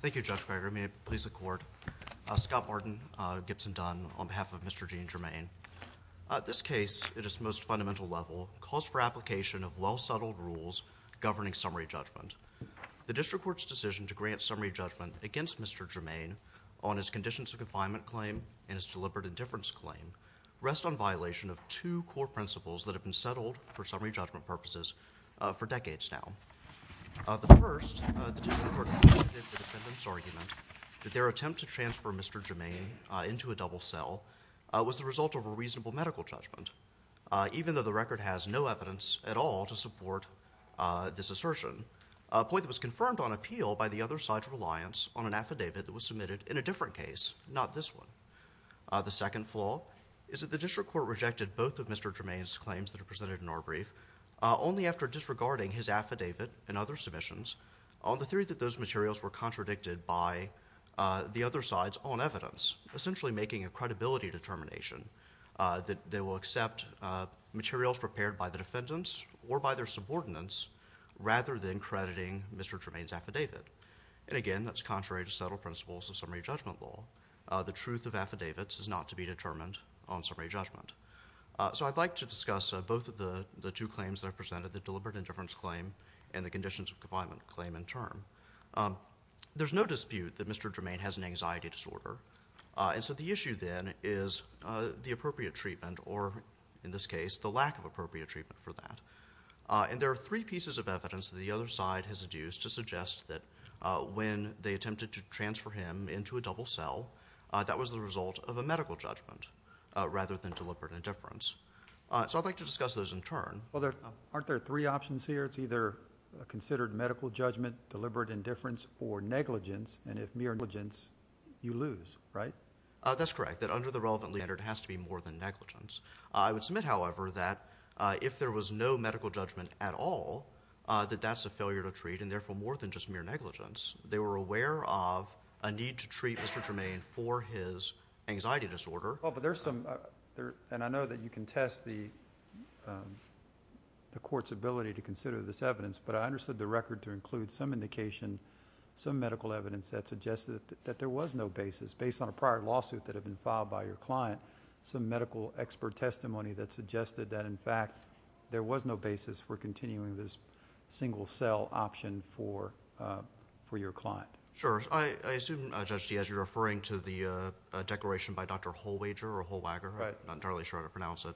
Thank you, Judge Greger. May it please the Court. Scott Barton, Gibson Dunn, on behalf of Mr. Gene Germain. This case, at its most fundamental level, calls for application of well-settled rules governing summary judgment. The District Court's decision to grant summary judgment against Mr. Germain on his conditions of confinement claim and his deliberate indifference claim rest on violation of two core principles that have been settled for summary judgment purposes for decades now. The first, the District Court concluded in the defendant's argument that their attempt to transfer Mr. Germain into a double cell was the result of a reasonable medical judgment, even though the record has no evidence at all to support this assertion, a point that was confirmed on appeal by the other side's reliance on an affidavit that was submitted in a different case, not this one. The second flaw is that the District Court rejected both of Mr. Germain's claims that are presented in our brief only after disregarding his affidavit and other submissions on the theory that those materials were contradicted by the other side's own evidence, essentially making a credibility determination that they will accept materials prepared by the defendants or by their subordinates rather than crediting Mr. Germain's affidavit. And again, that's contrary to settled principles of summary judgment law. The truth of affidavits is not to be determined on summary judgment. So I'd like to discuss both of the two claims that are presented, the deliberate indifference claim and the conditions of confinement claim in turn. There's no dispute that Mr. Germain has an anxiety disorder, and so the issue then is the appropriate treatment, or in this case, the lack of appropriate treatment for that. And there are three pieces of evidence that the other side has adduced to suggest that when they attempted to transfer him into a double cell, that was the result of a medical judgment rather than deliberate indifference. So I'd like to discuss those in turn. Well, aren't there three options here? It's either considered medical judgment, deliberate indifference, or negligence, and if mere negligence, you lose, right? That's correct, that under the relevant standard, it has to be more than negligence. I would argue that if there was no medical judgment at all, that that's a failure to treat, and therefore, more than just mere negligence. They were aware of a need to treat Mr. Germain for his anxiety disorder... Well, but there's some... and I know that you can test the court's ability to consider this evidence, but I understood the record to include some indication, some medical evidence that suggested that there was no basis, based on a prior lawsuit that had been filed by the court, that there was no basis for continuing this single cell option for your client. Sure. I assume, Judge Diaz, you're referring to the declaration by Dr. Holwager, or Holwager, I'm not entirely sure how to pronounce it.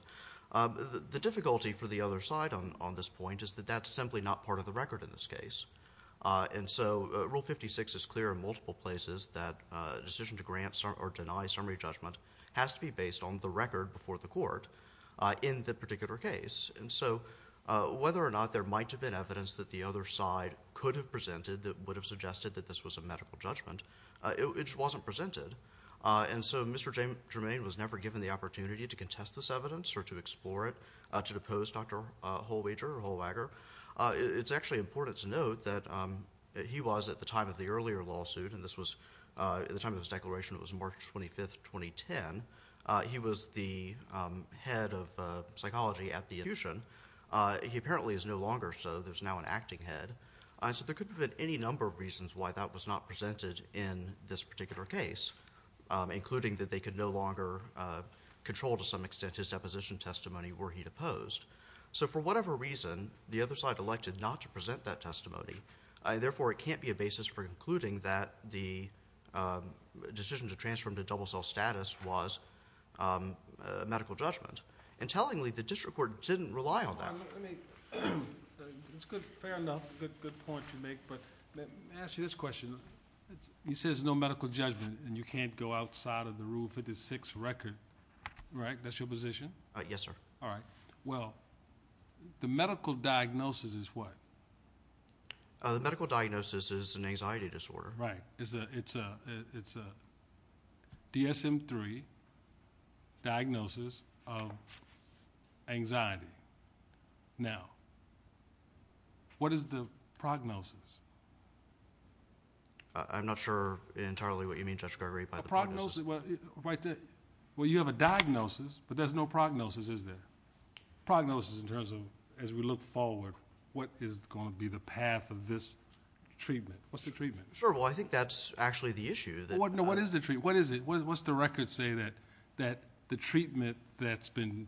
The difficulty for the other side on this point is that that's simply not part of the record in this case, and so Rule 56 is clear in multiple places that a decision to grant or deny summary judgment has to be based on the record before the court in the particular case. And so, whether or not there might have been evidence that the other side could have presented that would have suggested that this was a medical judgment, it just wasn't presented. And so, Mr. Germain was never given the opportunity to contest this evidence or to explore it, to depose Dr. Holwager. It's actually important to note that he was, at the time of the earlier lawsuit, and this was, at the time of his trial, April 25th, 2010, he was the head of psychology at the institution. He apparently is no longer, so there's now an acting head. So there could have been any number of reasons why that was not presented in this particular case, including that they could no longer control to some extent his deposition testimony were he deposed. So for whatever reason, the other side elected not to present that testimony. Therefore, it can't be a basis for concluding that the decision to transfer him to double cell status was a medical judgment. And tellingly, the district court didn't rely on that. Fair enough. Good point you make. But let me ask you this question. He says no medical judgment, and you can't go outside of the Rule 56 record, right? That's your position? Yes, sir. All right. Well, the medical diagnosis is what? The medical diagnosis is an anxiety disorder. Right. It's a DSM-III diagnosis of anxiety. Now, what is the prognosis? I'm not sure entirely what you mean, Judge Gregory, by the prognosis. Well, you have a diagnosis, but there's no prognosis, is there? Prognosis in terms of, as we look forward, what is going to be the path of this treatment? What's the treatment? Sure. Well, I think that's actually the issue. What is the treatment? What's the record say that the treatment that's been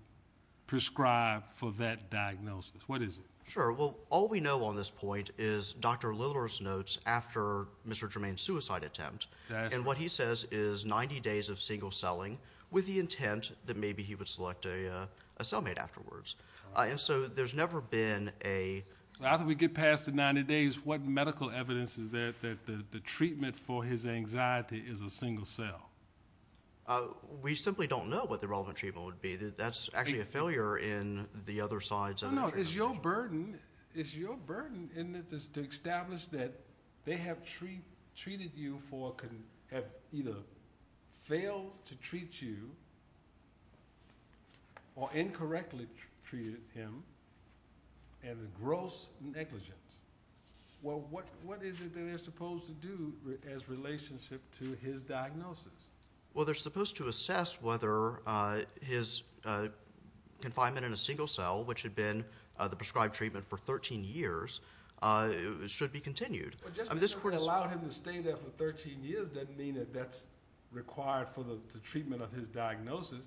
prescribed for that diagnosis? What is it? Sure. Well, all we know on this point is Dr. Lillard's notes after Mr. Germain's suicide attempt. And what he says is 90 days of single selling with the intent that maybe he would select a cellmate afterwards. And so, there's never been a- So, after we get past the 90 days, what medical evidence is there that the treatment for his anxiety is a single cell? We simply don't know what the relevant treatment would be. That's actually a failure in the other sides of the treatment. No, no. It's your burden. It's your burden to establish that they have treated you for, or have either failed to treat you, or incorrectly treated him, and a gross negligence. Well, what is it that they're supposed to do as relationship to his diagnosis? Well, they're supposed to assess whether his confinement in a single cell, which had been the prescribed treatment for 13 years, should be continued. But just because they allowed him to stay there for 13 years doesn't mean that that's required for the treatment of his diagnosis.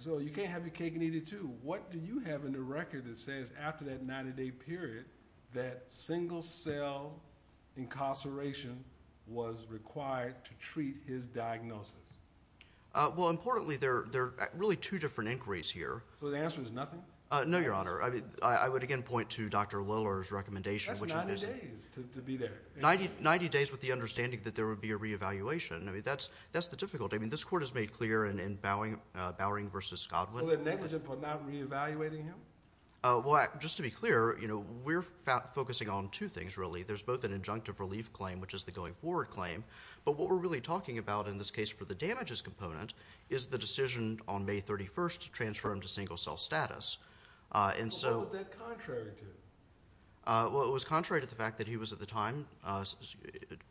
So, you can't have your cake and eat it, too. What do you have in the record that says, after that 90 day period, that single cell incarceration was required to treat his diagnosis? Well, importantly, there are really two different inquiries here. So, the answer is nothing? No, Your Honor. I would, again, point to Dr. Lillard's recommendation, which it isn't. 90 days to be there? 90 days, with the understanding that there would be a re-evaluation. I mean, that's the difficulty. I mean, this Court has made clear in Bowering v. Scodwin. So, they're negligent for not re-evaluating him? Well, just to be clear, you know, we're focusing on two things, really. There's both an injunctive relief claim, which is the going forward claim, but what we're really talking about in this case for the damages component is the decision on May 31st to transfer him to single cell status. Well, what was that contrary to? Well, it was contrary to the fact that he was, at the time,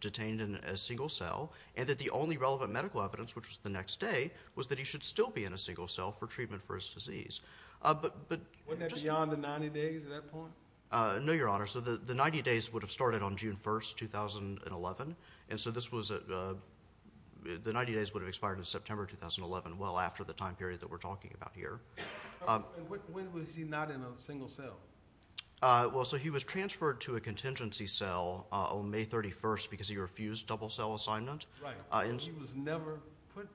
detained in a single cell, and that the only relevant medical evidence, which was the next day, was that he should still be in a single cell for treatment for his disease. Wasn't that beyond the 90 days at that point? No, Your Honor. So, the 90 days would have started on June 1st, 2011, and so this was a, the 90 days would have expired in September 2011, well after the time period that we're talking about here. And when was he not in a single cell? Well, so he was transferred to a contingency cell on May 31st because he refused double cell assignment. Right. He was never put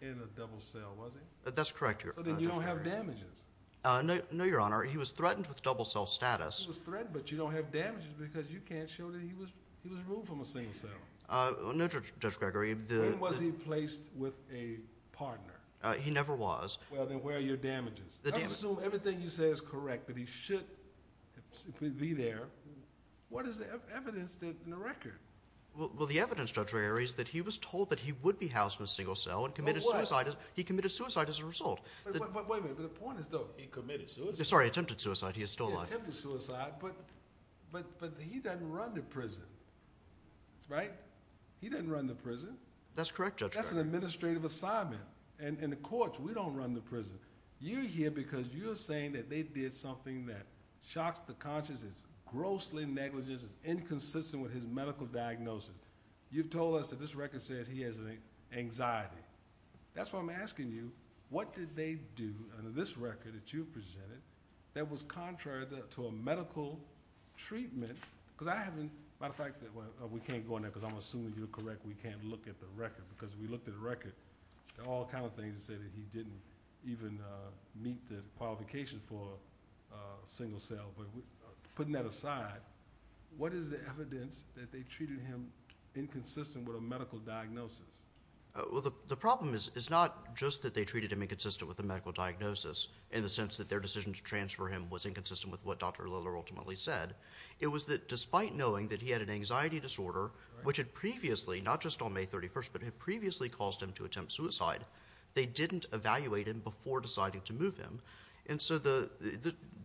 in a double cell, was he? That's correct, Your Honor. So then you don't have damages? No, Your Honor. He was threatened with double cell status. He was threatened, but you don't have damages because you can't show that he was removed from a single cell. No, Judge Gregory. When was he placed with a partner? He never was. Well, then where are your damages? The damages. I assume everything you say is correct, that he should be there. What is the evidence in the record? Well, the evidence, Judge Rarey, is that he was told that he would be housed in a single cell and committed suicide. He committed suicide as a result. But wait a minute, the point is though. He committed suicide? Sorry, attempted suicide. He is still alive. He attempted suicide, but he doesn't run the prison, right? He doesn't run the prison. That's correct, Judge Gregory. That's an administrative assignment. In the courts, we don't run the prison. You're here because you're saying that they did something that shocks the conscience. It's grossly negligent. It's inconsistent with his medical diagnosis. You've told us that this record says he has anxiety. That's why I'm asking you, what did they do under this record that you presented that was contrary to a medical treatment? Because I haven't, by the fact that we can't go in there because I'm assuming you're correct, we can't look at the record because we looked at the record. There are all kinds of things to say that he didn't even meet the qualifications for a single cell. Putting that aside, what is the evidence that they treated him inconsistent with a medical diagnosis? The problem is not just that they treated him inconsistent with a medical diagnosis in the sense that their decision to transfer him was inconsistent with what Dr. Liller ultimately said. It was that despite knowing that he had an anxiety disorder, which had previously, not just on May 31st, but had previously caused him to attempt suicide, they didn't evaluate him before deciding to move him. That was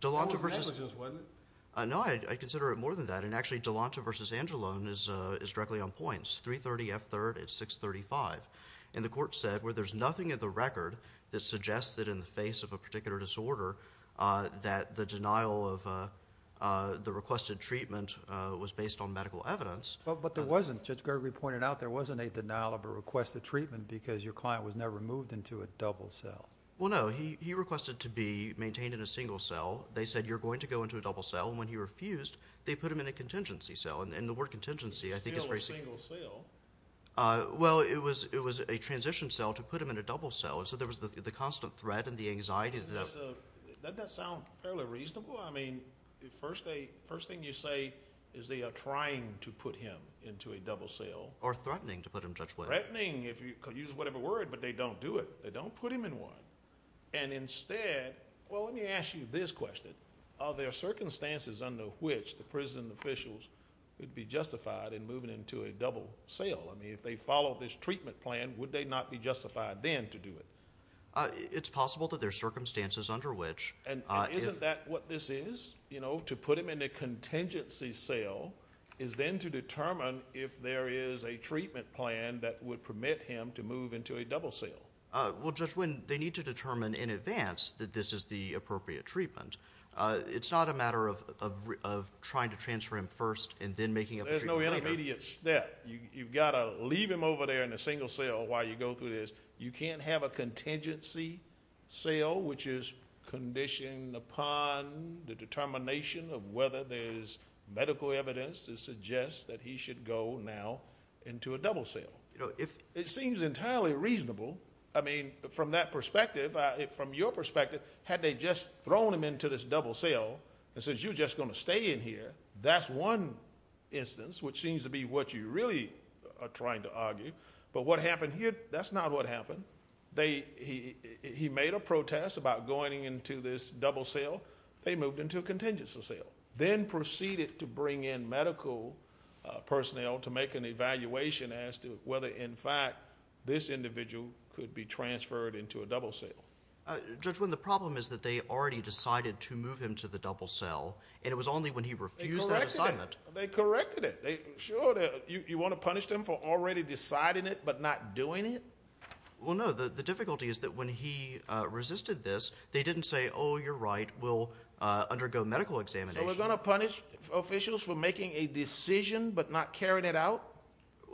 negligence, wasn't it? No, I consider it more than that. Actually, Delonta v. Angelone is directly on point. 330F3rd at 635. The court said, there's nothing in the record that suggests that in the face of a particular disorder that the denial of the requested treatment was based on medical evidence. But there wasn't. Judge Gregory pointed out there wasn't a denial of a requested treatment because your client was never moved into a double cell. Well, no. He requested to be maintained in a single cell. They said, you're going to go into a double cell. When he refused, they put him in a contingency cell. And the word contingency, I think, is very similar. It's still a single cell. Well, it was a transition cell to put him in a double cell. So there was the constant threat and the anxiety. Doesn't that sound fairly reasonable? Well, I mean, the first thing you say is they are trying to put him into a double cell. Or threatening to put him, Judge Blake. Threatening, if you could use whatever word, but they don't do it. They don't put him in one. And instead, well, let me ask you this question. Are there circumstances under which the prison officials would be justified in moving into a double cell? I mean, if they follow this treatment plan, would they not be justified then to do it? It's possible that there are circumstances under which. And isn't that what this is? You know, to put him in a contingency cell is then to determine if there is a treatment plan that would permit him to move into a double cell. Well, Judge Wynn, they need to determine in advance that this is the appropriate treatment. It's not a matter of trying to transfer him first and then making up a treatment plan. There's no intermediate step. You've got to leave him over there in a single cell while you go through this. You can't have a contingency cell, which is conditioned upon the determination of whether there's medical evidence to suggest that he should go now into a double cell. It seems entirely reasonable. I mean, from that perspective, from your perspective, had they just thrown him into this double cell and said, you're just going to stay in here, that's one instance, which seems to be what you really are trying to argue. But what happened here, that's not what happened. He made a protest about going into this double cell. They moved him to a contingency cell. Then proceeded to bring in medical personnel to make an evaluation as to whether, in fact, this individual could be transferred into a double cell. Judge Wynn, the problem is that they already decided to move him to the double cell, and it was only when he refused that assignment. They corrected it. Sure, you want to punish them for already deciding it but not doing it? Well, no, the difficulty is that when he resisted this, they didn't say, oh, you're right, we'll undergo medical examination. So they're going to punish officials for making a decision but not carrying it out?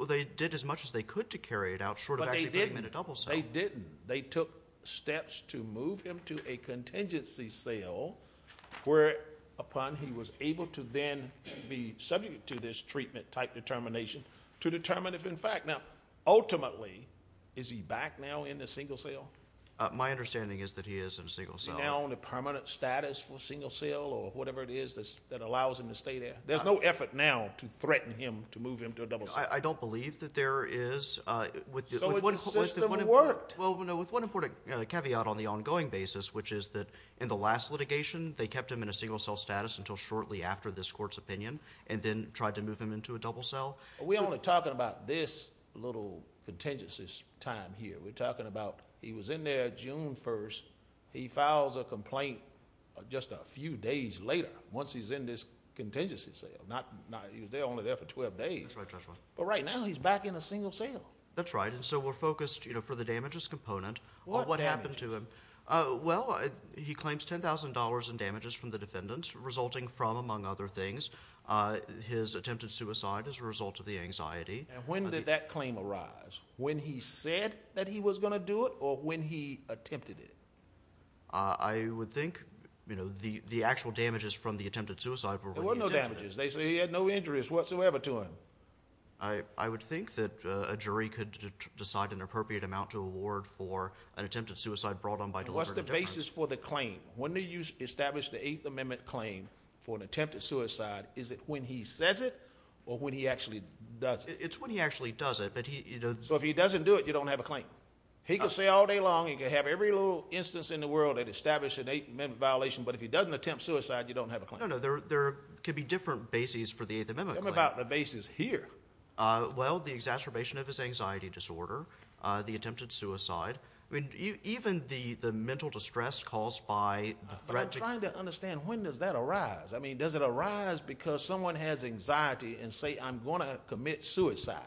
They did as much as they could to carry it out, short of actually bringing him into a double cell. They didn't. They took steps to move him to a contingency cell, whereupon he was able to then be subject to this treatment type determination to determine if, in fact, now, ultimately, is he back now in the single cell? My understanding is that he is in a single cell. Is he now in a permanent status for single cell or whatever it is that allows him to stay there? There's no effort now to threaten him to move him to a double cell. I don't believe that there is. So the system worked. Well, with one important caveat on the ongoing basis, which is that in the last litigation, they kept him in a single cell status until shortly after this court's opinion and then tried to move him into a double cell. We're only talking about this little contingency time here. We're talking about he was in there June 1st. He files a complaint just a few days later, once he's in this contingency cell. He was only there for 12 days. That's right. But right now, he's back in a single cell. That's right. And so we're focused for the damages component. What damage? Well, he claims $10,000 in damages from the defendants, resulting from, among other things, his attempted suicide as a result of the anxiety. And when did that claim arise? When he said that he was going to do it or when he attempted it? I would think the actual damages from the attempted suicide were when he attempted it. There were no damages. They say he had no injuries whatsoever to him. I would think that a jury could decide an appropriate amount to award for an attempted suicide brought on by delivering a defense. What's the basis for the claim? When do you establish the Eighth Amendment claim for an attempted suicide? Is it when he says it or when he actually does it? It's when he actually does it. So if he doesn't do it, you don't have a claim? He could say all day long, he could have every little instance in the world that established an Eighth Amendment violation, but if he doesn't attempt suicide, you don't have a claim? No, no. There could be different bases for the Eighth Amendment claim. Tell me about the bases here. Well, the exacerbation of his anxiety disorder, the attempted suicide, even the mental distress caused by the threat to... But I'm trying to understand, when does that arise? I mean, does it arise because someone has anxiety and say, I'm going to commit suicide?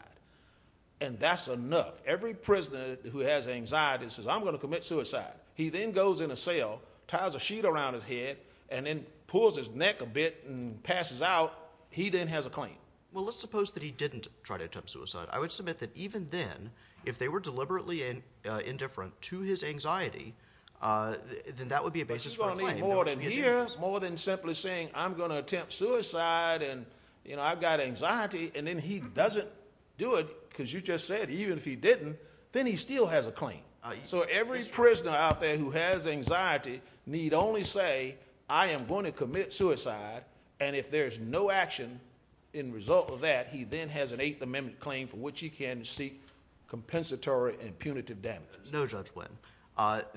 And that's enough. Every prisoner who has anxiety says, I'm going to commit suicide. He then goes in a cell, ties a sheet around his head, and then pulls his neck a bit and passes out. He then has a claim. Well, let's suppose that he didn't try to attempt suicide. I would submit that even then, if they were deliberately indifferent to his anxiety, then that would be a basis for a claim. But you're going to need more than here, more than simply saying, I'm going to attempt suicide and I've got anxiety, and then he doesn't do it, because you just said, even if he didn't, then he still has a claim. So every prisoner out there who has anxiety need only say, I am going to commit suicide, and if there's no action in result of that, he then has an Eighth Amendment claim for which he can seek compensatory and punitive damages. No, Judge Wynn.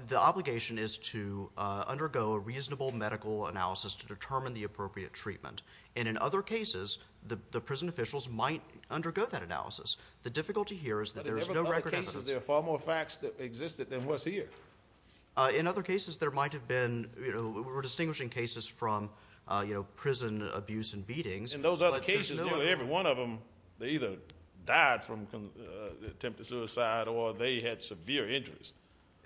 The obligation is to undergo a reasonable medical analysis to determine the appropriate treatment. And in other cases, the prison officials might undergo that analysis. The difficulty here is that there is no record evidence. But in other cases, there are far more facts that existed than what's here. In other cases, there might have been, we're distinguishing cases from prison abuse and beatings. In those other cases, nearly every one of them, they either died from the attempt to suicide or they had severe injuries.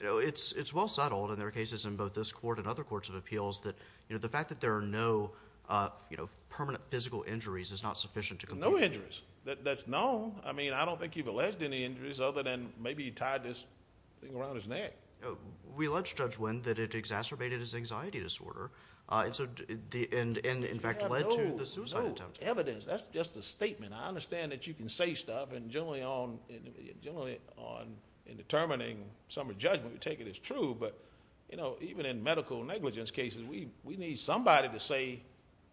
It's well settled in their cases in both this court and other courts of appeals that the fact that there are no permanent physical injuries is not sufficient to compensate. No injuries. That's known. I mean, I don't think you've alleged any injuries other than maybe he tied this thing around his neck. We alleged, Judge Wynn, that it exacerbated his anxiety disorder and in fact led to the suicide attempt. We have no evidence. That's just a statement. I understand that you can say stuff and generally on determining someone's judgment, we take it as true. But even in medical negligence cases, we need somebody to say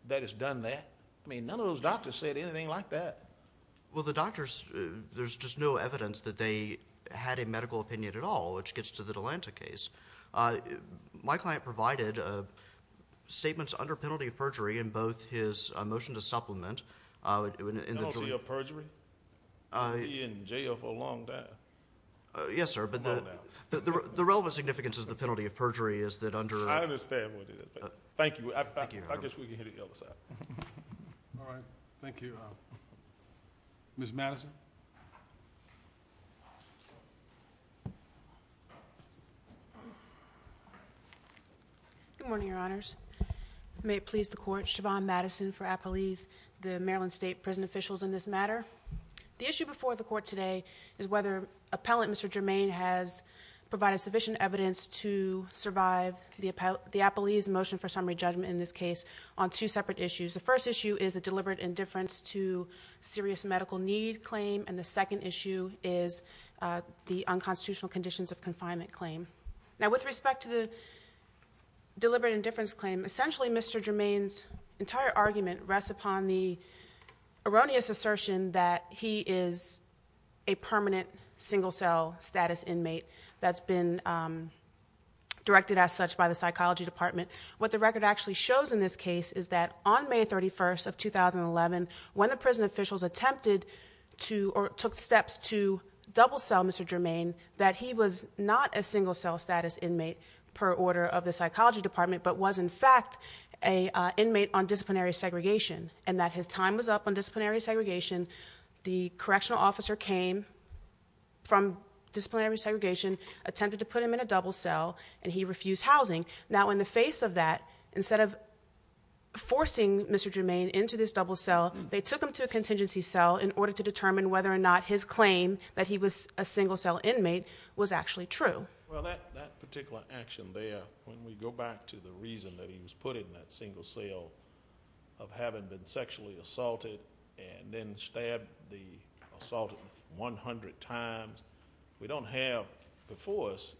that it's done that. I mean, none of those doctors said anything like that. Well, the doctors, there's just no evidence that they had a medical opinion at all, which gets to the Delanta case. My client provided statements under penalty of perjury in both his motion to supplement in the jury. Penalty of perjury? He'll be in jail for a long time. Yes, sir. Long time. The relevant significance of the penalty of perjury is that under... I understand what you did. Thank you. I guess we can hear the other side. All right. Thank you. Ms. Madison. Good morning, Your Honors. May it please the Court, Siobhan Madison for Appelese, the Maryland State prison officials in this matter. The issue before the Court today is whether Appellant Mr. Germain has provided sufficient evidence to survive the Appelese motion for summary judgment in this case on two separate issues. The first issue is the deliberate indifference to serious medical need claim and the second issue is the unconstitutional conditions of confinement claim. Now, with respect to the deliberate indifference claim, essentially Mr. Germain's entire argument rests upon the erroneous assertion that he is a permanent single-cell status inmate that's been directed as such by the psychology department. What the record actually shows in this case is that on May 31st of 2011, when the prison officials attempted to... or took steps to double-sell Mr. Germain, that he was not a single-cell status inmate per order of the psychology department but was in fact an inmate on disciplinary segregation and that his time was up on disciplinary segregation, the correctional officer came from disciplinary segregation, attempted to put him in a double-cell and he refused housing. Now, in the face of that, instead of forcing Mr. Germain into this double-cell, they took him to a contingency cell in order to determine whether or not his claim that he was a single-cell inmate was actually true. Well, that particular action there, when we go back to the reason that he was put in that single-cell of having been sexually assaulted and then stabbed the assaulter 100 times, we don't have before us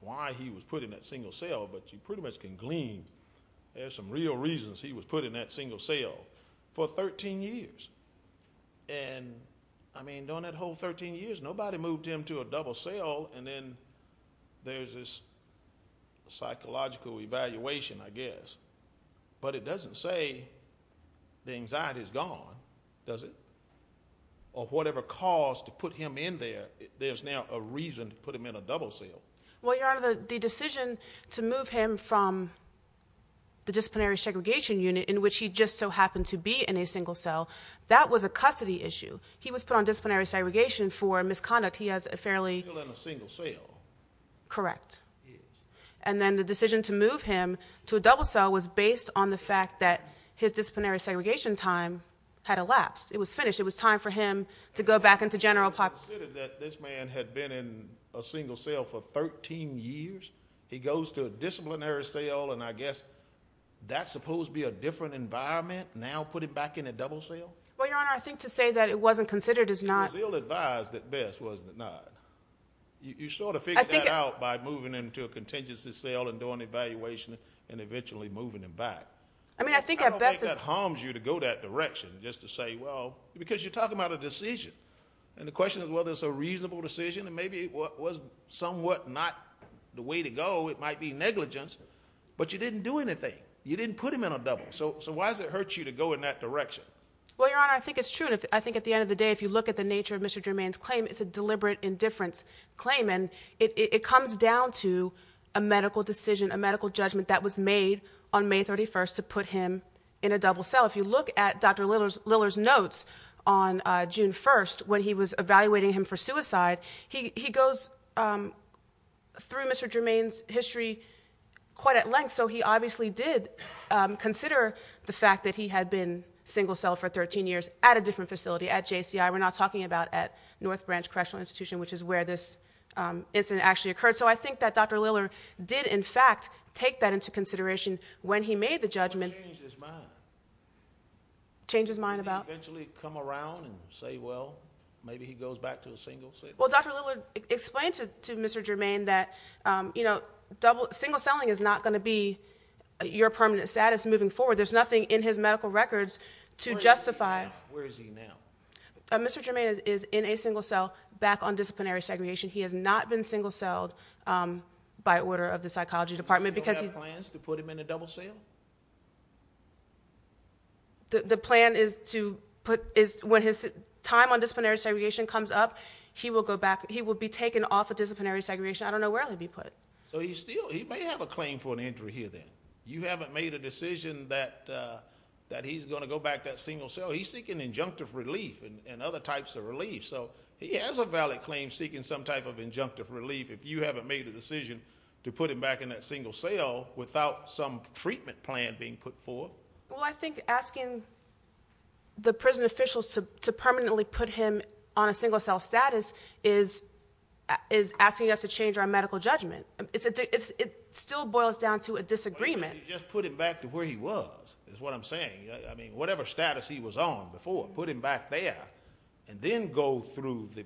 why he was put in that single-cell but you pretty much can glean there's some real reasons he was put in that single-cell for 13 years. And, I mean, during that whole 13 years, nobody moved him to a double-cell and then there's this psychological evaluation, I guess. But it doesn't say the anxiety's gone, does it? Or whatever caused to put him in there, there's now a reason to put him in a double-cell. Well, Your Honor, the decision to move him from the disciplinary segregation unit in which he just so happened to be in a single-cell, that was a custody issue. He was put on disciplinary segregation for misconduct. Correct. And then the decision to move him to a double-cell was based on the fact that his disciplinary segregation time had elapsed. It was finished. It was time for him to go back into general population. So you considered that this man had been in a single-cell for 13 years? He goes to a disciplinary cell and I guess that's supposed to be a different environment now, putting back in a double-cell? Well, Your Honor, I think to say that it wasn't considered is not... It was ill-advised at best, was it not? You sort of figured that out by moving him to a contingency cell and doing evaluation and eventually moving him back. I don't think that harms you to go that direction just to say, well... Because you're talking about a decision and the question is whether it's a reasonable decision and maybe it was somewhat not the way to go. It might be negligence. But you didn't do anything. You didn't put him in a double. So why does it hurt you to go in that direction? Well, Your Honor, I think it's true and I think at the end of the day if you look at the nature of Mr. Germain's claim it's a deliberate indifference claim and it comes down to a medical decision, a medical judgment that was made on May 31st to put him in a double-cell. If you look at Dr. Lillard's notes on June 1st when he was evaluating him for suicide he goes through Mr. Germain's history quite at length so he obviously did consider the fact that he had been single-celled for 13 years at a different facility at JCI, we're not talking about at North Branch Correctional Institution which is where this incident actually occurred so I think that Dr. Lillard did in fact take that into consideration when he made the judgment change his mind and eventually come around and say well, maybe he goes back to a single-celled Well, Dr. Lillard explained to Mr. Germain that single-celling is not going to be your permanent status moving forward, there's nothing in his medical records to justify Where is he now? Mr. Germain is in a single-cell back on disciplinary segregation he has not been single-celled by order of the psychology department You don't have plans to put him in a double-cell? The plan is to when his time on disciplinary segregation comes up he will be taken off of disciplinary segregation I don't know where he'll be put He may have a claim for an entry here you haven't made a decision that he's going to go back to that single-cell he's seeking injunctive relief and other types of relief he has a valid claim seeking some type of injunctive relief if you haven't made a decision to put him back in that single-cell without some treatment plan being put forth I think asking the prison officials to permanently put him on a single-cell status is asking us to change our medical judgment it still boils down to a disagreement Just put him back to where he was is what I'm saying whatever status he was on before put him back there and then go through the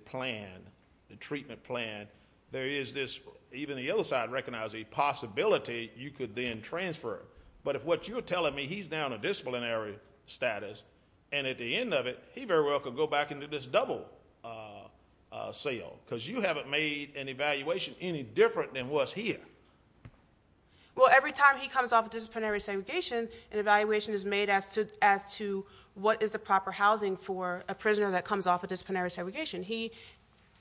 treatment plan there is this even the other side recognizes the possibility you could then transfer but what you're telling me he's down to disciplinary status and at the end of it he very well could go back into this double-cell because you haven't made an evaluation any different than what's here Well every time he comes off of disciplinary segregation an evaluation is made as to what is the proper housing for a prisoner that comes off of disciplinary segregation he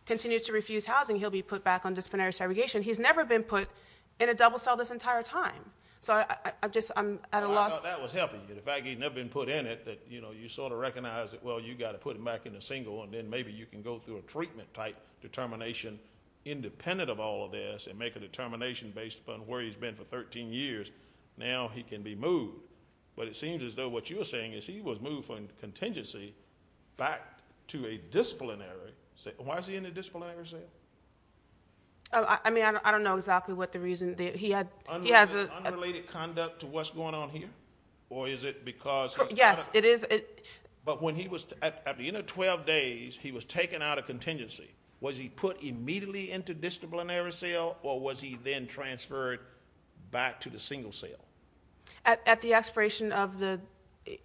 continues to refuse housing he'll be put back on disciplinary segregation he's never been put in a double-cell this entire time I thought that was helpful the fact that he's never been put in it you sort of recognize that you've got to put him back in a single and then maybe you can go through a treatment type determination independent of all of this and make a determination based upon where he's been for 13 years now he can be moved but it seems as though what you're saying is he was moved from contingency back to a disciplinary why is he in a disciplinary cell I mean I don't know exactly what the reason he has an unrelated conduct to what's going on here or is it because at the end of 12 days he was taken out of contingency was he put immediately into disciplinary cell or was he then transferred back to the single cell at the expiration of the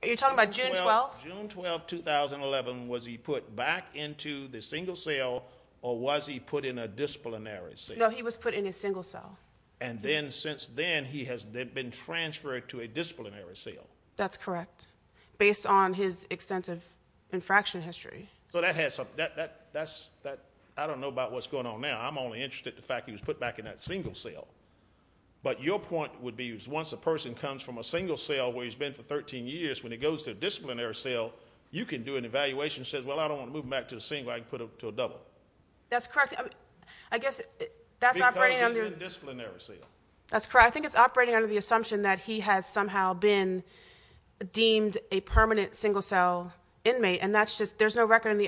you're talking about June 12th June 12, 2011 was he put back into the single cell or was he put in a disciplinary cell no he was put in a single cell and then since then he has been transferred to a disciplinary cell that's correct based on his extensive infraction history I don't know about what's going on now I'm only interested in the fact that he was put back in that single cell but your point would be once a person comes from a single cell where he's been for 13 years when he goes to a disciplinary cell you can do an evaluation that says well I don't want to move him back to a single I can put him to a double that's correct because he's in disciplinary cell I think it's operating under the assumption that he has somehow been deemed a permanent single cell inmate and that's just there's no evidence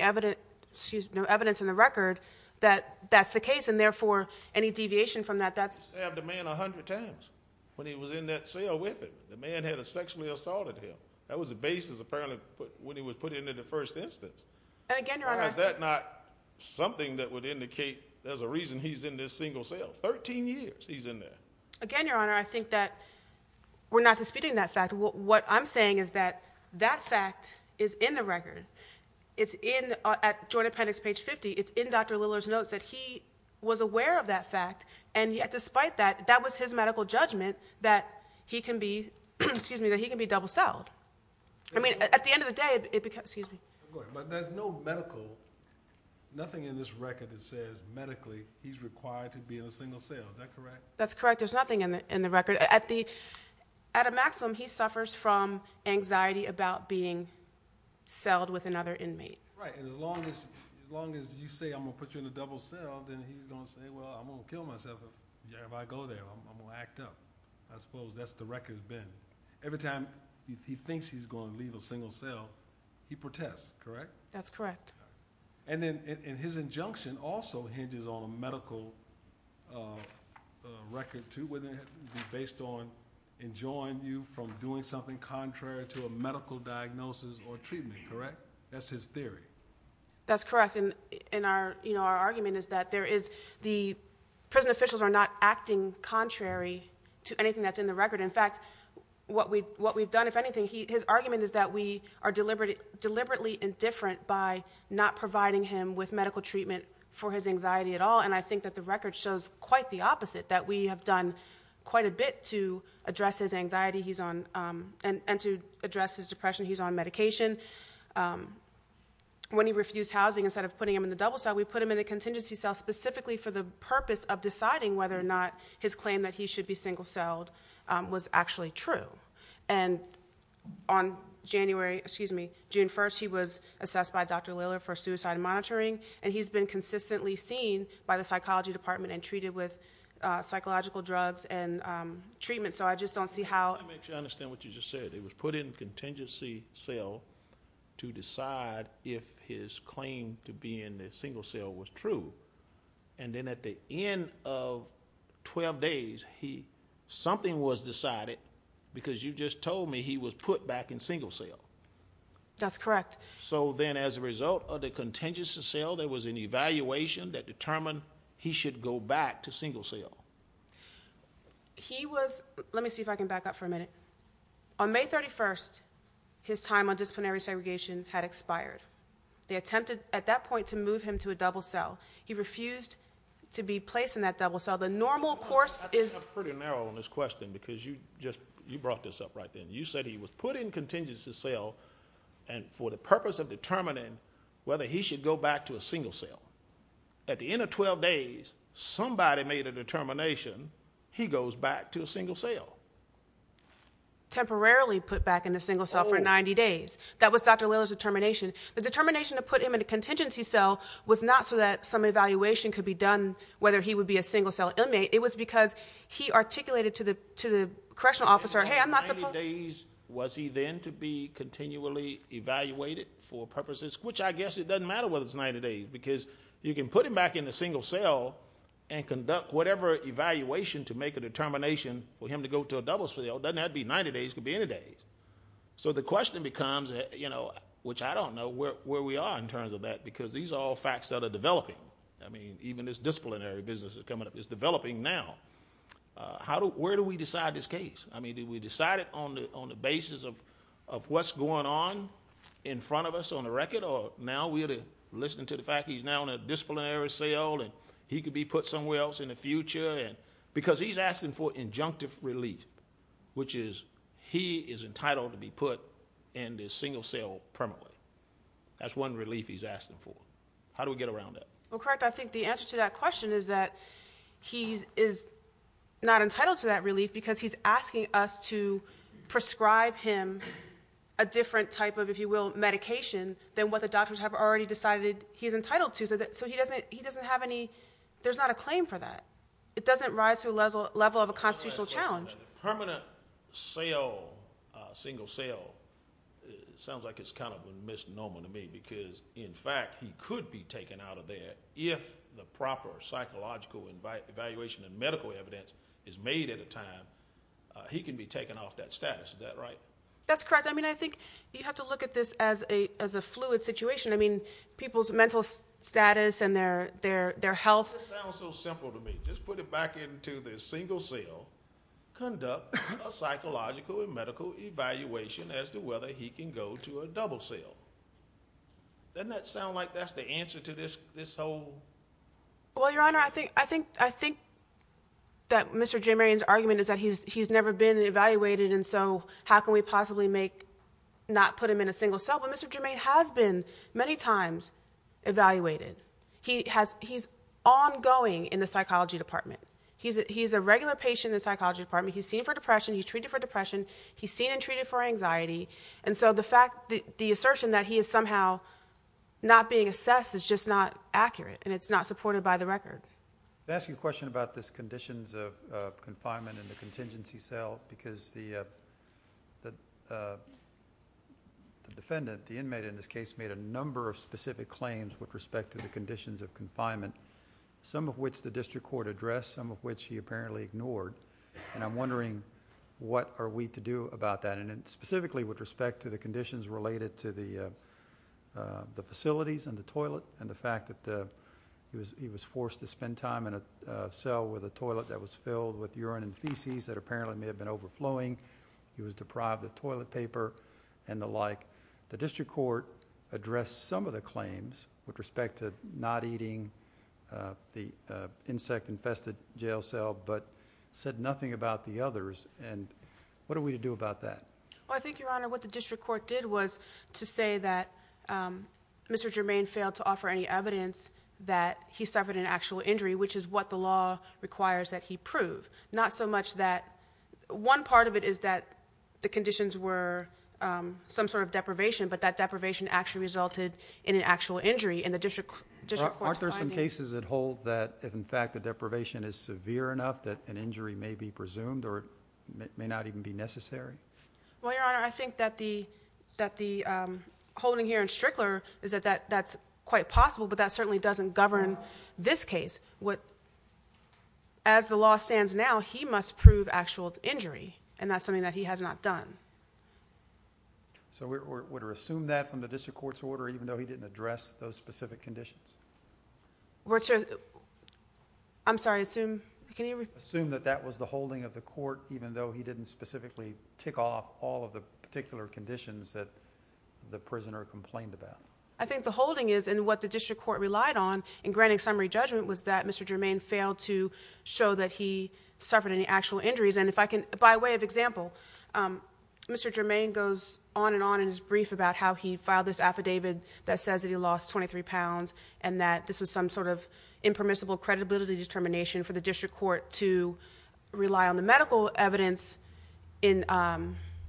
in the record that that's the case and therefore any deviation from that you have the man a hundred times when he was in that cell with him the man had sexually assaulted him that was the basis apparently when he was put into the first instance is that not something that would indicate there's a reason he's in this single cell 13 years he's in there again your honor I think that we're not disputing that fact what I'm saying is that that fact is in the record it's in at joint appendix page 50 it's in Dr. Lillard's notes that he was aware of that fact and yet despite that that was his medical judgment that he can be double celled at the end of the day there's no medical nothing in this record that says medically he's required to be in a single cell is that correct there's nothing in the record at a maximum he suffers from anxiety about being celled with another inmate right and as long as you say I'm going to put you in a double cell then he's going to say well I'm going to kill myself if I go there I'm going to act up I suppose that's the record has been every time he thinks he's going to leave a single cell he protests correct? that's correct and then his injunction also hinges on a medical record too based on enjoying you from doing something contrary to a medical diagnosis or treatment correct? that's his theory that's correct our argument is that there is the prison officials are not acting contrary to anything that's in the record in fact what we've done if anything his argument is that we are deliberately indifferent by not providing him with medical treatment for his anxiety at all and I think that the record shows quite the opposite that we have done quite a bit to address his anxiety and to address his depression he's on medication when he refused housing instead of putting him in the double cell we put him in the contingency cell specifically for the purpose of deciding whether or not his claim that he should be single celled was actually true and on January excuse me June 1st he was assessed by Dr. Liller for suicide monitoring and he's been consistently seen by the psychology department and treated with psychological drugs and I actually understand what you just said he was put in contingency cell to decide if his claim to be in the single cell was true and then at the end of 12 days he something was decided because you just told me he was put back in single cell that's correct so then as a result of the contingency cell there was an evaluation that determined he should go back to single cell he was let me see if I can back up for a minute on May 31st his time on disciplinary segregation had expired they attempted at that point to move him to a double cell he refused to be placed in that double cell the normal course is pretty narrow on this question because you just you brought this up right then you said he was put in contingency cell and for the purpose of determining whether he should go back to a single cell at the end of 12 days somebody made a determination he goes back to a single cell temporarily put back in a single cell for 90 days that was Dr. Lillard's determination the determination to put him in a contingency cell was not so that some evaluation could be done whether he would be a single cell inmate it was because he articulated to the correctional officer hey I'm not supposed to was he then to be continually evaluated for purposes which I guess it doesn't matter whether it's 90 days because you can put him back in a single cell and conduct whatever evaluation to make a determination for him to go to a double cell it doesn't have to be 90 days it could be any day so the question becomes which I don't know where we are in terms of that because these are all facts that are developing even this disciplinary business is developing now where do we decide this case did we decide it on the basis of what's going on in front of us on the record or now we're listening to the fact he's now in a disciplinary cell he could be put somewhere else in the future because he's asking for injunctive relief which is he is entitled to be put in this single cell permanently that's one relief he's asking for how do we get around that I think the answer to that question is that he is not entitled to that relief because he's asking us to prescribe him a different type of if you will medication than what the doctors have already decided he's entitled to so he doesn't have any there's not a claim for that it doesn't rise to the level of a constitutional challenge permanent cell single cell sounds like it's kind of a misnomer to me because in fact he could be taken out of there if the proper psychological evaluation and medical evidence is made at a time he can be taken off that status is that right that's correct I mean I think you have to look at this as a fluid situation I mean people's mental status and their health this sounds so simple to me just put it back into this single cell conduct a psychological and medical evaluation as to whether he can go to a double cell doesn't that sound like that's the answer to this whole well your honor I think that Mr. J. Marion's argument is that he's never been evaluated and so how can we possibly make not put him in a single cell but Mr. Jermaine has been many times evaluated he's ongoing in the psychology department he's a regular patient in the psychology department he's seen for depression he's treated for depression he's seen and treated for anxiety and so the fact the assertion that he is somehow not being assessed is just not accurate and it's not supported by the record can I ask you a question about this conditions of confinement in the contingency cell because the defendant the inmate in this case made a number of specific claims with respect to the conditions of confinement some of which the district court addressed some of which he apparently ignored and I'm wondering what are we to do about that and specifically with respect to the conditions related to the facilities and the toilet and the fact that he was forced to spend time in a cell with a toilet that was overflowing he was deprived of toilet paper and the like the district court addressed some of the claims with respect to not eating the insect infested jail cell but said nothing about the others and what are we to do about that? I think your honor what the district court did was to say that Mr. Jermaine failed to offer any evidence that he suffered an actual injury which is what the law requires that he prove not so much that one part of it is that the conditions were some sort of deprivation but that deprivation actually resulted in an actual injury and the district court's finding. Aren't there some cases that hold that if in fact the deprivation is severe enough that an injury may be presumed or may not even be necessary? Well your honor I think that the that the holding here in Strickler is that that's quite possible but that certainly doesn't govern this case as the law stands now he must prove actual injury and that's something that he has not done So would we assume that from the district court's order even though he didn't address those specific conditions? I'm sorry assume? Assume that that was the holding of the court even though he didn't specifically tick off all of the particular conditions that the prisoner complained about? I think the holding is and what the district court relied on in granting summary judgment was that Mr. Germain failed to show that he suffered any actual injuries and if I can by way of example Mr. Germain goes on and on in his brief about how he filed this affidavit that says that he lost 23 pounds and that this was some sort of impermissible credibility determination for the district court to rely on the medical evidence in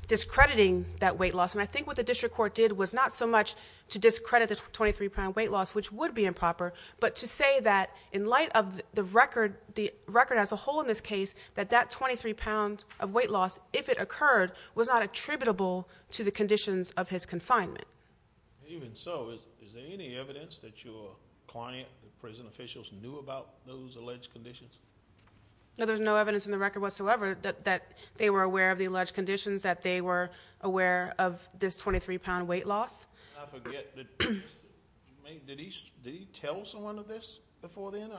discrediting that weight loss and I think what the district court did was not so much to discredit the 23 pound weight loss which would be improper but to say that in light of the record as a whole in this case that that 23 pound of weight loss if it occurred was not attributable to the conditions of his confinement Even so is there any evidence that your client, the prison officials knew about those alleged conditions? No there's no evidence in the record whatsoever that they were aware of the alleged conditions that they were aware of this 23 pound weight loss Did he tell someone of this before then?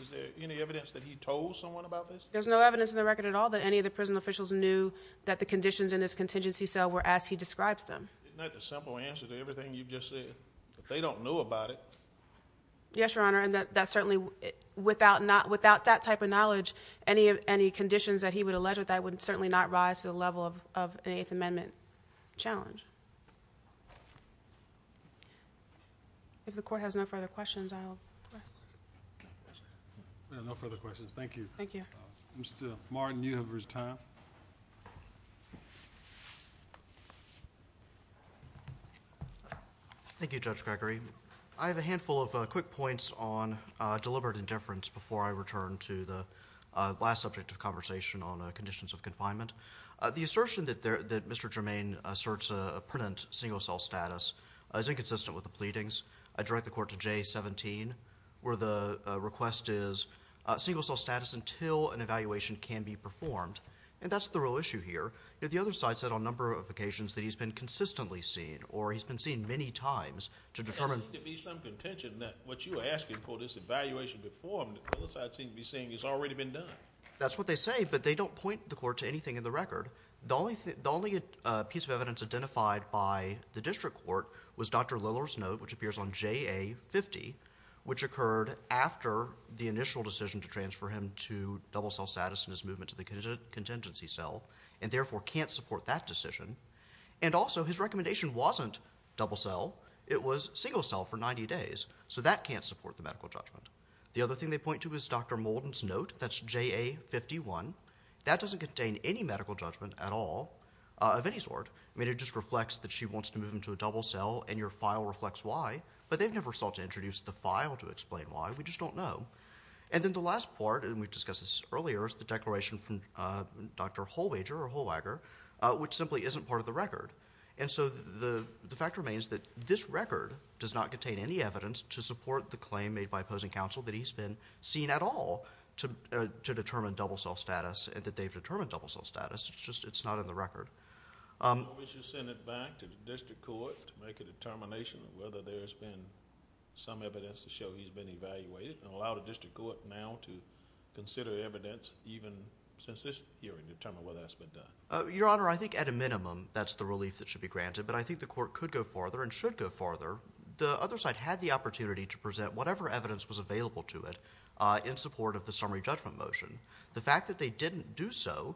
Is there any evidence that he told someone about this? There's no evidence in the record at all that any of the prison officials knew that the conditions in this contingency cell were as he describes them. Isn't that the simple answer to everything you've just said? They don't know about it Yes your honor and that certainly without that type of knowledge any conditions that he would allege that would certainly not rise to the level of an 8th amendment challenge If the court has no further questions I will No further questions thank you Mr. Martin you have your time Thank you Judge Gregory I have a handful of quick points on deliberate indifference before I return to the last subject of conversation on conditions of confinement The assertion that Mr. Jermaine asserts a pertinent single cell status is inconsistent with the pleadings. I direct the court to J17 where the request is single cell status until an evaluation can be performed and that's the real issue here The other side said on a number of occasions that he's been consistently seen or he's been seen many times to determine There seems to be some contention that what you are asking for this evaluation before him that the other side seems to be saying has already been done That's what they say but they don't point the court to anything in the record The only piece of evidence identified by the district court was Dr. Lillard's note which appears on JA 50 which occurred after the initial decision to transfer him to double cell status in his movement to the contingency cell and therefore can't support that decision and also his recommendation wasn't double cell it was single cell for 90 days so that can't support the medical judgment. The other thing they said was Dr. Molden's note, that's JA 51, that doesn't contain any medical judgment at all of any sort. I mean it just reflects that she wants to move him to a double cell and your file reflects why but they've never sought to introduce the file to explain why, we just don't know and then the last part and we've discussed this earlier is the declaration from Dr. Holwager which simply isn't part of the record and so the fact remains that this record does not contain any evidence to support the claim made by to determine double cell status and that they've determined double cell status it's just not in the record. Why would you send it back to the district court to make a determination of whether there's been some evidence to show he's been evaluated and allow the district court now to consider evidence even since this hearing to determine whether that's been done? Your Honor, I think at a minimum that's the relief that should be granted but I think the court could go farther and should go farther. The other side had the opportunity to present whatever evidence was available to it in support of the summary judgment motion. The fact that they didn't do so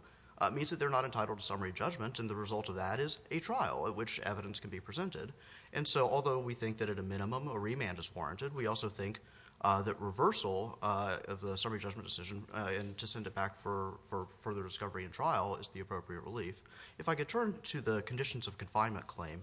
means that they're not entitled to summary judgment and the result of that is a trial at which evidence can be presented and so although we think that at a minimum a remand is warranted we also think that reversal of the summary judgment decision and to send it back for further discovery and trial is the appropriate relief. If I could turn to the conditions of confinement claim,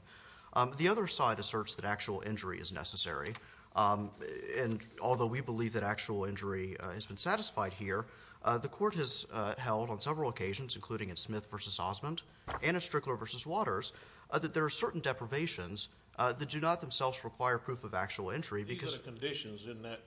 the other side asserts that actual injury is necessary and although we believe that actual injury has been satisfied here, the court has held on several occasions including in Smith v. Osmond and in Strickler v. Waters that there are certain deprivations that do not themselves require proof of actual injury. These are the conditions in that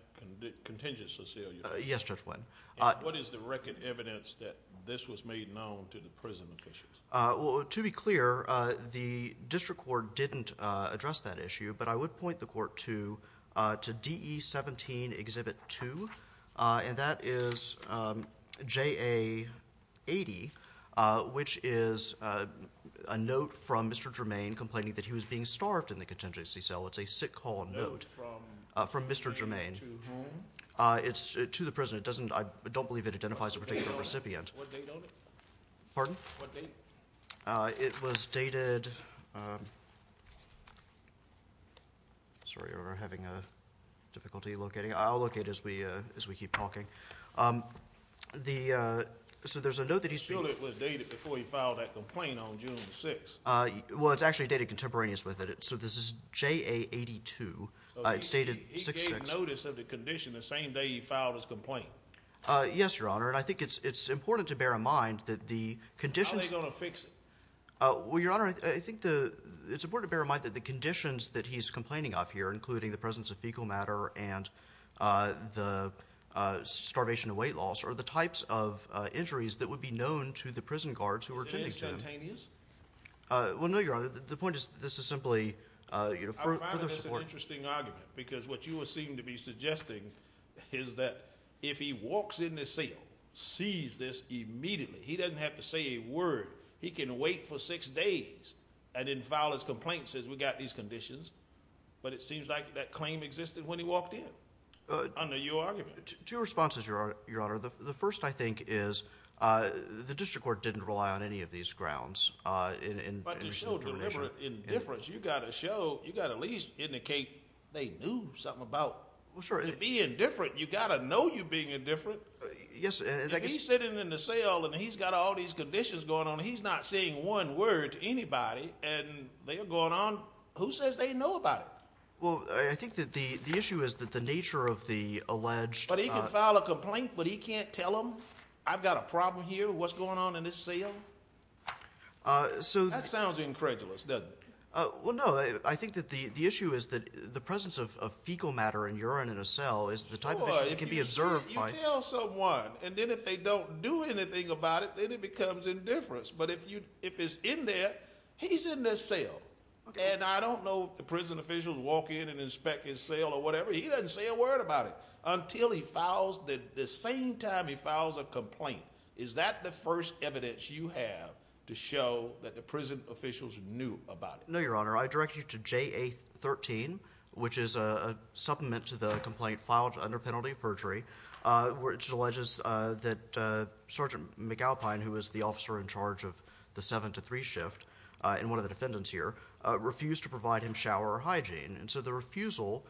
contingent Cecilia? Yes, Judge Wynn. What is the record evidence that this was made known to the prison officials? To be clear, the district court didn't address that issue but I would point the court to DE 17 Exhibit 2 and that is JA 80 which is a note from Mr. Germain complaining that he was being starved in the contingency cell. It's a sick call note from Mr. Germain. To whom? To the prison. I don't believe it identifies a particular recipient. Pardon? It was dated Sorry, we're having difficulty locating. I'll locate it as we keep talking. So there's a note that he's been sure it was dated before he filed that complaint on June 6. Well, it's actually dated contemporaneous with it. So this is JA 82. It's dated 66. He gave notice of the condition the same day he filed his complaint. Yes, Your Honor. And I think it's important to bear in mind that the conditions How are they going to fix it? Well, Your Honor, I think it's important to bear in mind that the conditions that he's complaining of here, including the presence of fecal matter and the starvation and weight loss are the types of injuries that would be known to the prison guards who were attending to him. Are they instantaneous? Well, no, Your Honor. The point is this is simply I find this an interesting argument because what you seem to be suggesting is that if he walks in the cell, sees this immediately, he doesn't have to say a word. He can wait for six days and then file his complaint and says, we've got these conditions. But it seems like that claim existed when he walked in under your argument. Two responses, Your Honor. The first, I think, is the district court didn't rely on any of these grounds. But to show deliberate indifference, you've got to show, you've got to at least indicate they knew something about being indifferent. You've got to know you're being indifferent. If he's sitting in the cell and he's got all these conditions going on and he's not saying one word to anybody and they're going on, who says they know about it? Well, I think that the issue is that the nature of the alleged... But he can file a complaint, but he can't tell them I've got a problem here, what's going on in this cell? That sounds incredulous, doesn't it? Well, no. I think that the issue is that the presence of fecal matter in urine in a cell is the type of issue that can be observed by... You tell someone, and then if they don't do anything about it, then it becomes indifference. But if it's in there, he's in the cell. And I don't know if the prison officials walk in and inspect his cell or whatever. He doesn't say a word about it until he files the same time he files a complaint. Is that the first evidence you have to show that the prison officials knew about it? No, Your Honor. I direct you to JA-13, which is a complaint filed under penalty of perjury, which alleges that Sergeant McAlpine, who is the officer in charge of the 7-3 shift, and one of the defendants here, refused to provide him shower or hygiene. And so the refusal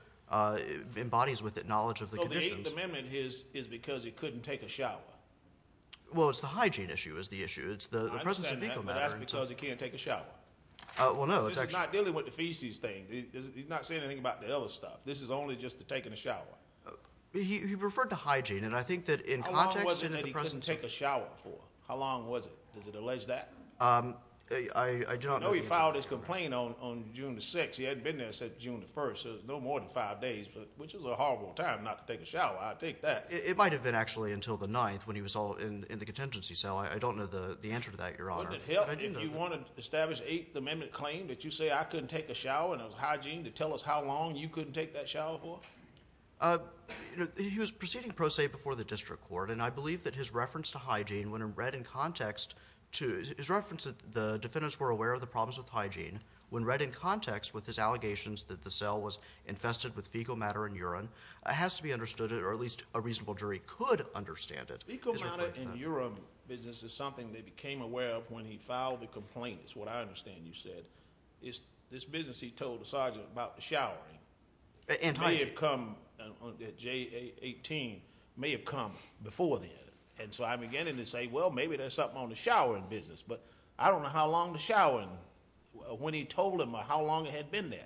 embodies with it knowledge of the conditions... So the Eighth Amendment is because he couldn't take a shower. Well, it's the hygiene issue is the issue. I understand that, but that's because he can't take a shower. Well, no, it's actually... This is not dealing with the feces thing. He's not saying anything about the other stuff. This is only just the taking a shower. He referred to hygiene, and I think that in context... How long was it that he couldn't take a shower for? How long was it? Does it allege that? I do not know the answer to that, Your Honor. No, he filed his complaint on June the 6th. He hadn't been there since June the 1st, so no more than five days, which is a horrible time not to take a shower. I take that. It might have been actually until the 9th when he was in the contingency cell. I don't know the answer to that, Your Honor. Wouldn't it help if you wanted to establish the Eighth Amendment claim that you say, I couldn't take a shower, and it was hygiene to tell us how long you couldn't take that shower for? He was proceeding pro se before the district court, and I believe that his reference to hygiene, when it read in context to... His reference that the defendants were aware of the problems with hygiene, when read in context with his allegations that the cell was infested with fecal matter and urine, it has to be understood, or at least a reasonable jury could understand it. Fecal matter and urine business is something they became aware of when he filed the complaint. It's what I understand you said. This business he told the sergeant about the showering, it may have come, J18, may have come before then, and so I'm beginning to say, well, maybe there's something on the showering business, but I don't know how long the showering, when he told him, how long it had been there.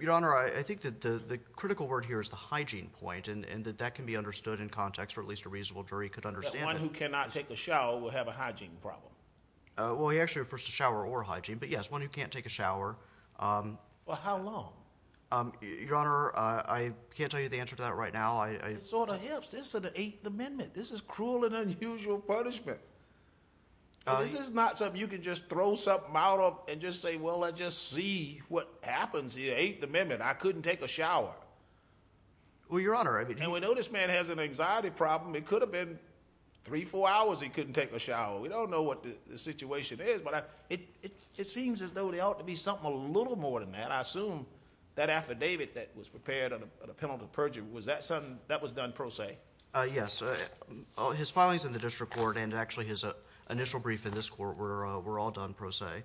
Your Honor, I think that the critical word here is the hygiene point, and that that can be understood in context, or at least a reasonable jury could understand it. One who cannot take a shower will have a hygiene problem. Well, he actually refers to shower or hygiene, but yes, one who can't take a shower. Well, how long? Your Honor, I can't tell you the answer to that right now. It sort of helps. This is the Eighth Amendment. This is cruel and unusual punishment. This is not something you can just throw something out of and just say, well, let's just see what happens in the Eighth Amendment. I couldn't take a shower. Well, Your Honor, and we know this man has an anxiety problem. It could have been three, four hours he couldn't take a shower. We don't know what the situation is, but it seems as though there ought to be something a little more than that. I assume that affidavit that was prepared on a penalty of perjury, was that done pro se? Yes. His filings in the district court and actually his initial brief in this court were all done pro se.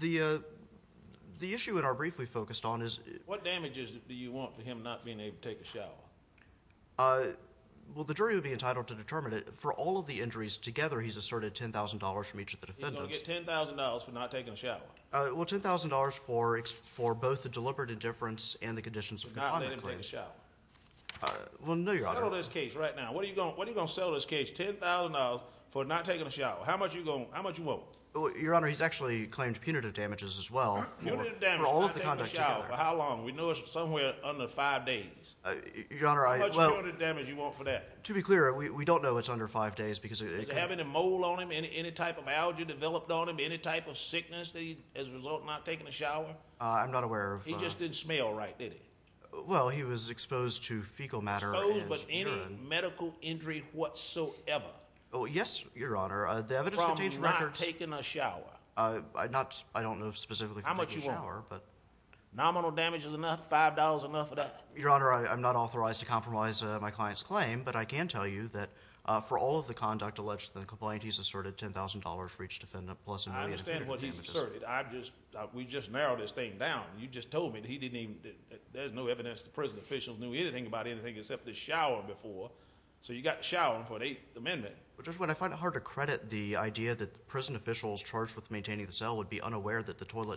The issue in our brief we focused on is... What damages do you want for him not being able to take a shower? Well, the jury would be entitled to determine it. For all of the injuries together, he's asserted $10,000 from each of the defendants. He's going to get $10,000 for not taking a shower? Well, $10,000 for both the deliberate indifference and the conditions of conduct claims. Well, no, Your Honor. What are you going to sell this case, $10,000 for not taking a shower? How much do you want? Your Honor, he's actually claimed punitive damages as well for all of the conduct together. For how long? We know it's somewhere under five days. How much punitive damage do you want for that? To be clear, we don't know it's under five days because... Is it having a mole on him, any type of allergy developed on him, any type of sickness as a result of not taking a shower? I'm not aware of... He just didn't smell right, did he? Well, he was exposed to fecal matter and urine. Exposed, but any medical injury whatsoever? Well, yes, Your Honor. The evidence contains records... From not taking a shower? I don't know specifically how much you want. Nominal damage is enough? Five dollars enough for that? Your Honor, I'm not authorized to compromise my client's claim, but I can tell you that for all of the conduct alleged in the complaint, he's asserted $10,000 for each defendant, plus a million in punitive damages. I understand what he's asserted. I've just... We just narrowed this thing down. You just told me that he didn't even... There's no evidence the prison officials knew anything about anything except the shower before. So you got the shower before the Eighth Amendment. Judge Wood, I find it hard to credit the idea that the prison officials charged with that he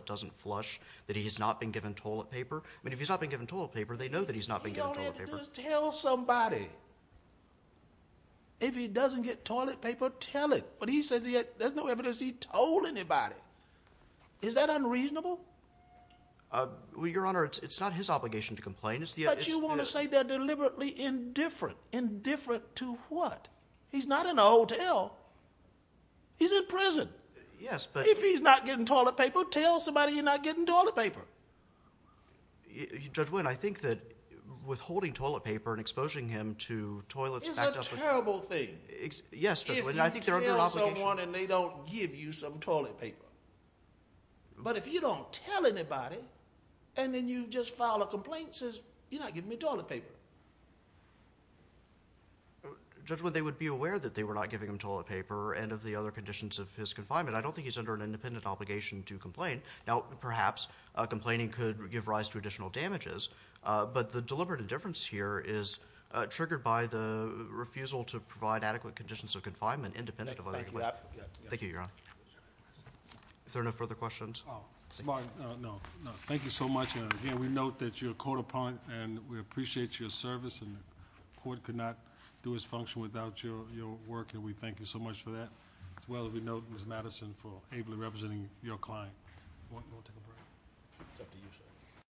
doesn't flush, that he's not been given toilet paper. I mean, if he's not been given toilet paper, they know that he's not been given toilet paper. Tell somebody. If he doesn't get toilet paper, tell it. But he says there's no evidence he told anybody. Is that unreasonable? Well, Your Honor, it's not his obligation to complain. It's the... But you want to say they're deliberately indifferent. Indifferent to what? He's not in a hotel. He's in prison. Yes, but... If he's not getting toilet paper, tell somebody he's not getting toilet paper. Judge Wood, I think that withholding toilet paper and exposing him to toilets... It's a terrible thing. Yes, Judge Wood. If you tell someone and they don't give you some toilet paper. But if you don't tell anybody, and then you just file a complaint, you're not giving me toilet paper. Judge Wood, they would be aware that they were not giving him adequate conditions of confinement. I don't think he's under an independent obligation to complain. Now, perhaps, complaining could give rise to additional damages, but the deliberate indifference here is triggered by the refusal to provide adequate conditions of confinement, independent of... Thank you, Your Honor. Is there no further questions? Mr. Martin, no. Thank you so much, and again, we note that you're caught upon, and we appreciate your service, and the court could not do its function without your work, and we thank you so much for that, as well as we note Ms. Madison for ably representing your client. We'll take a break.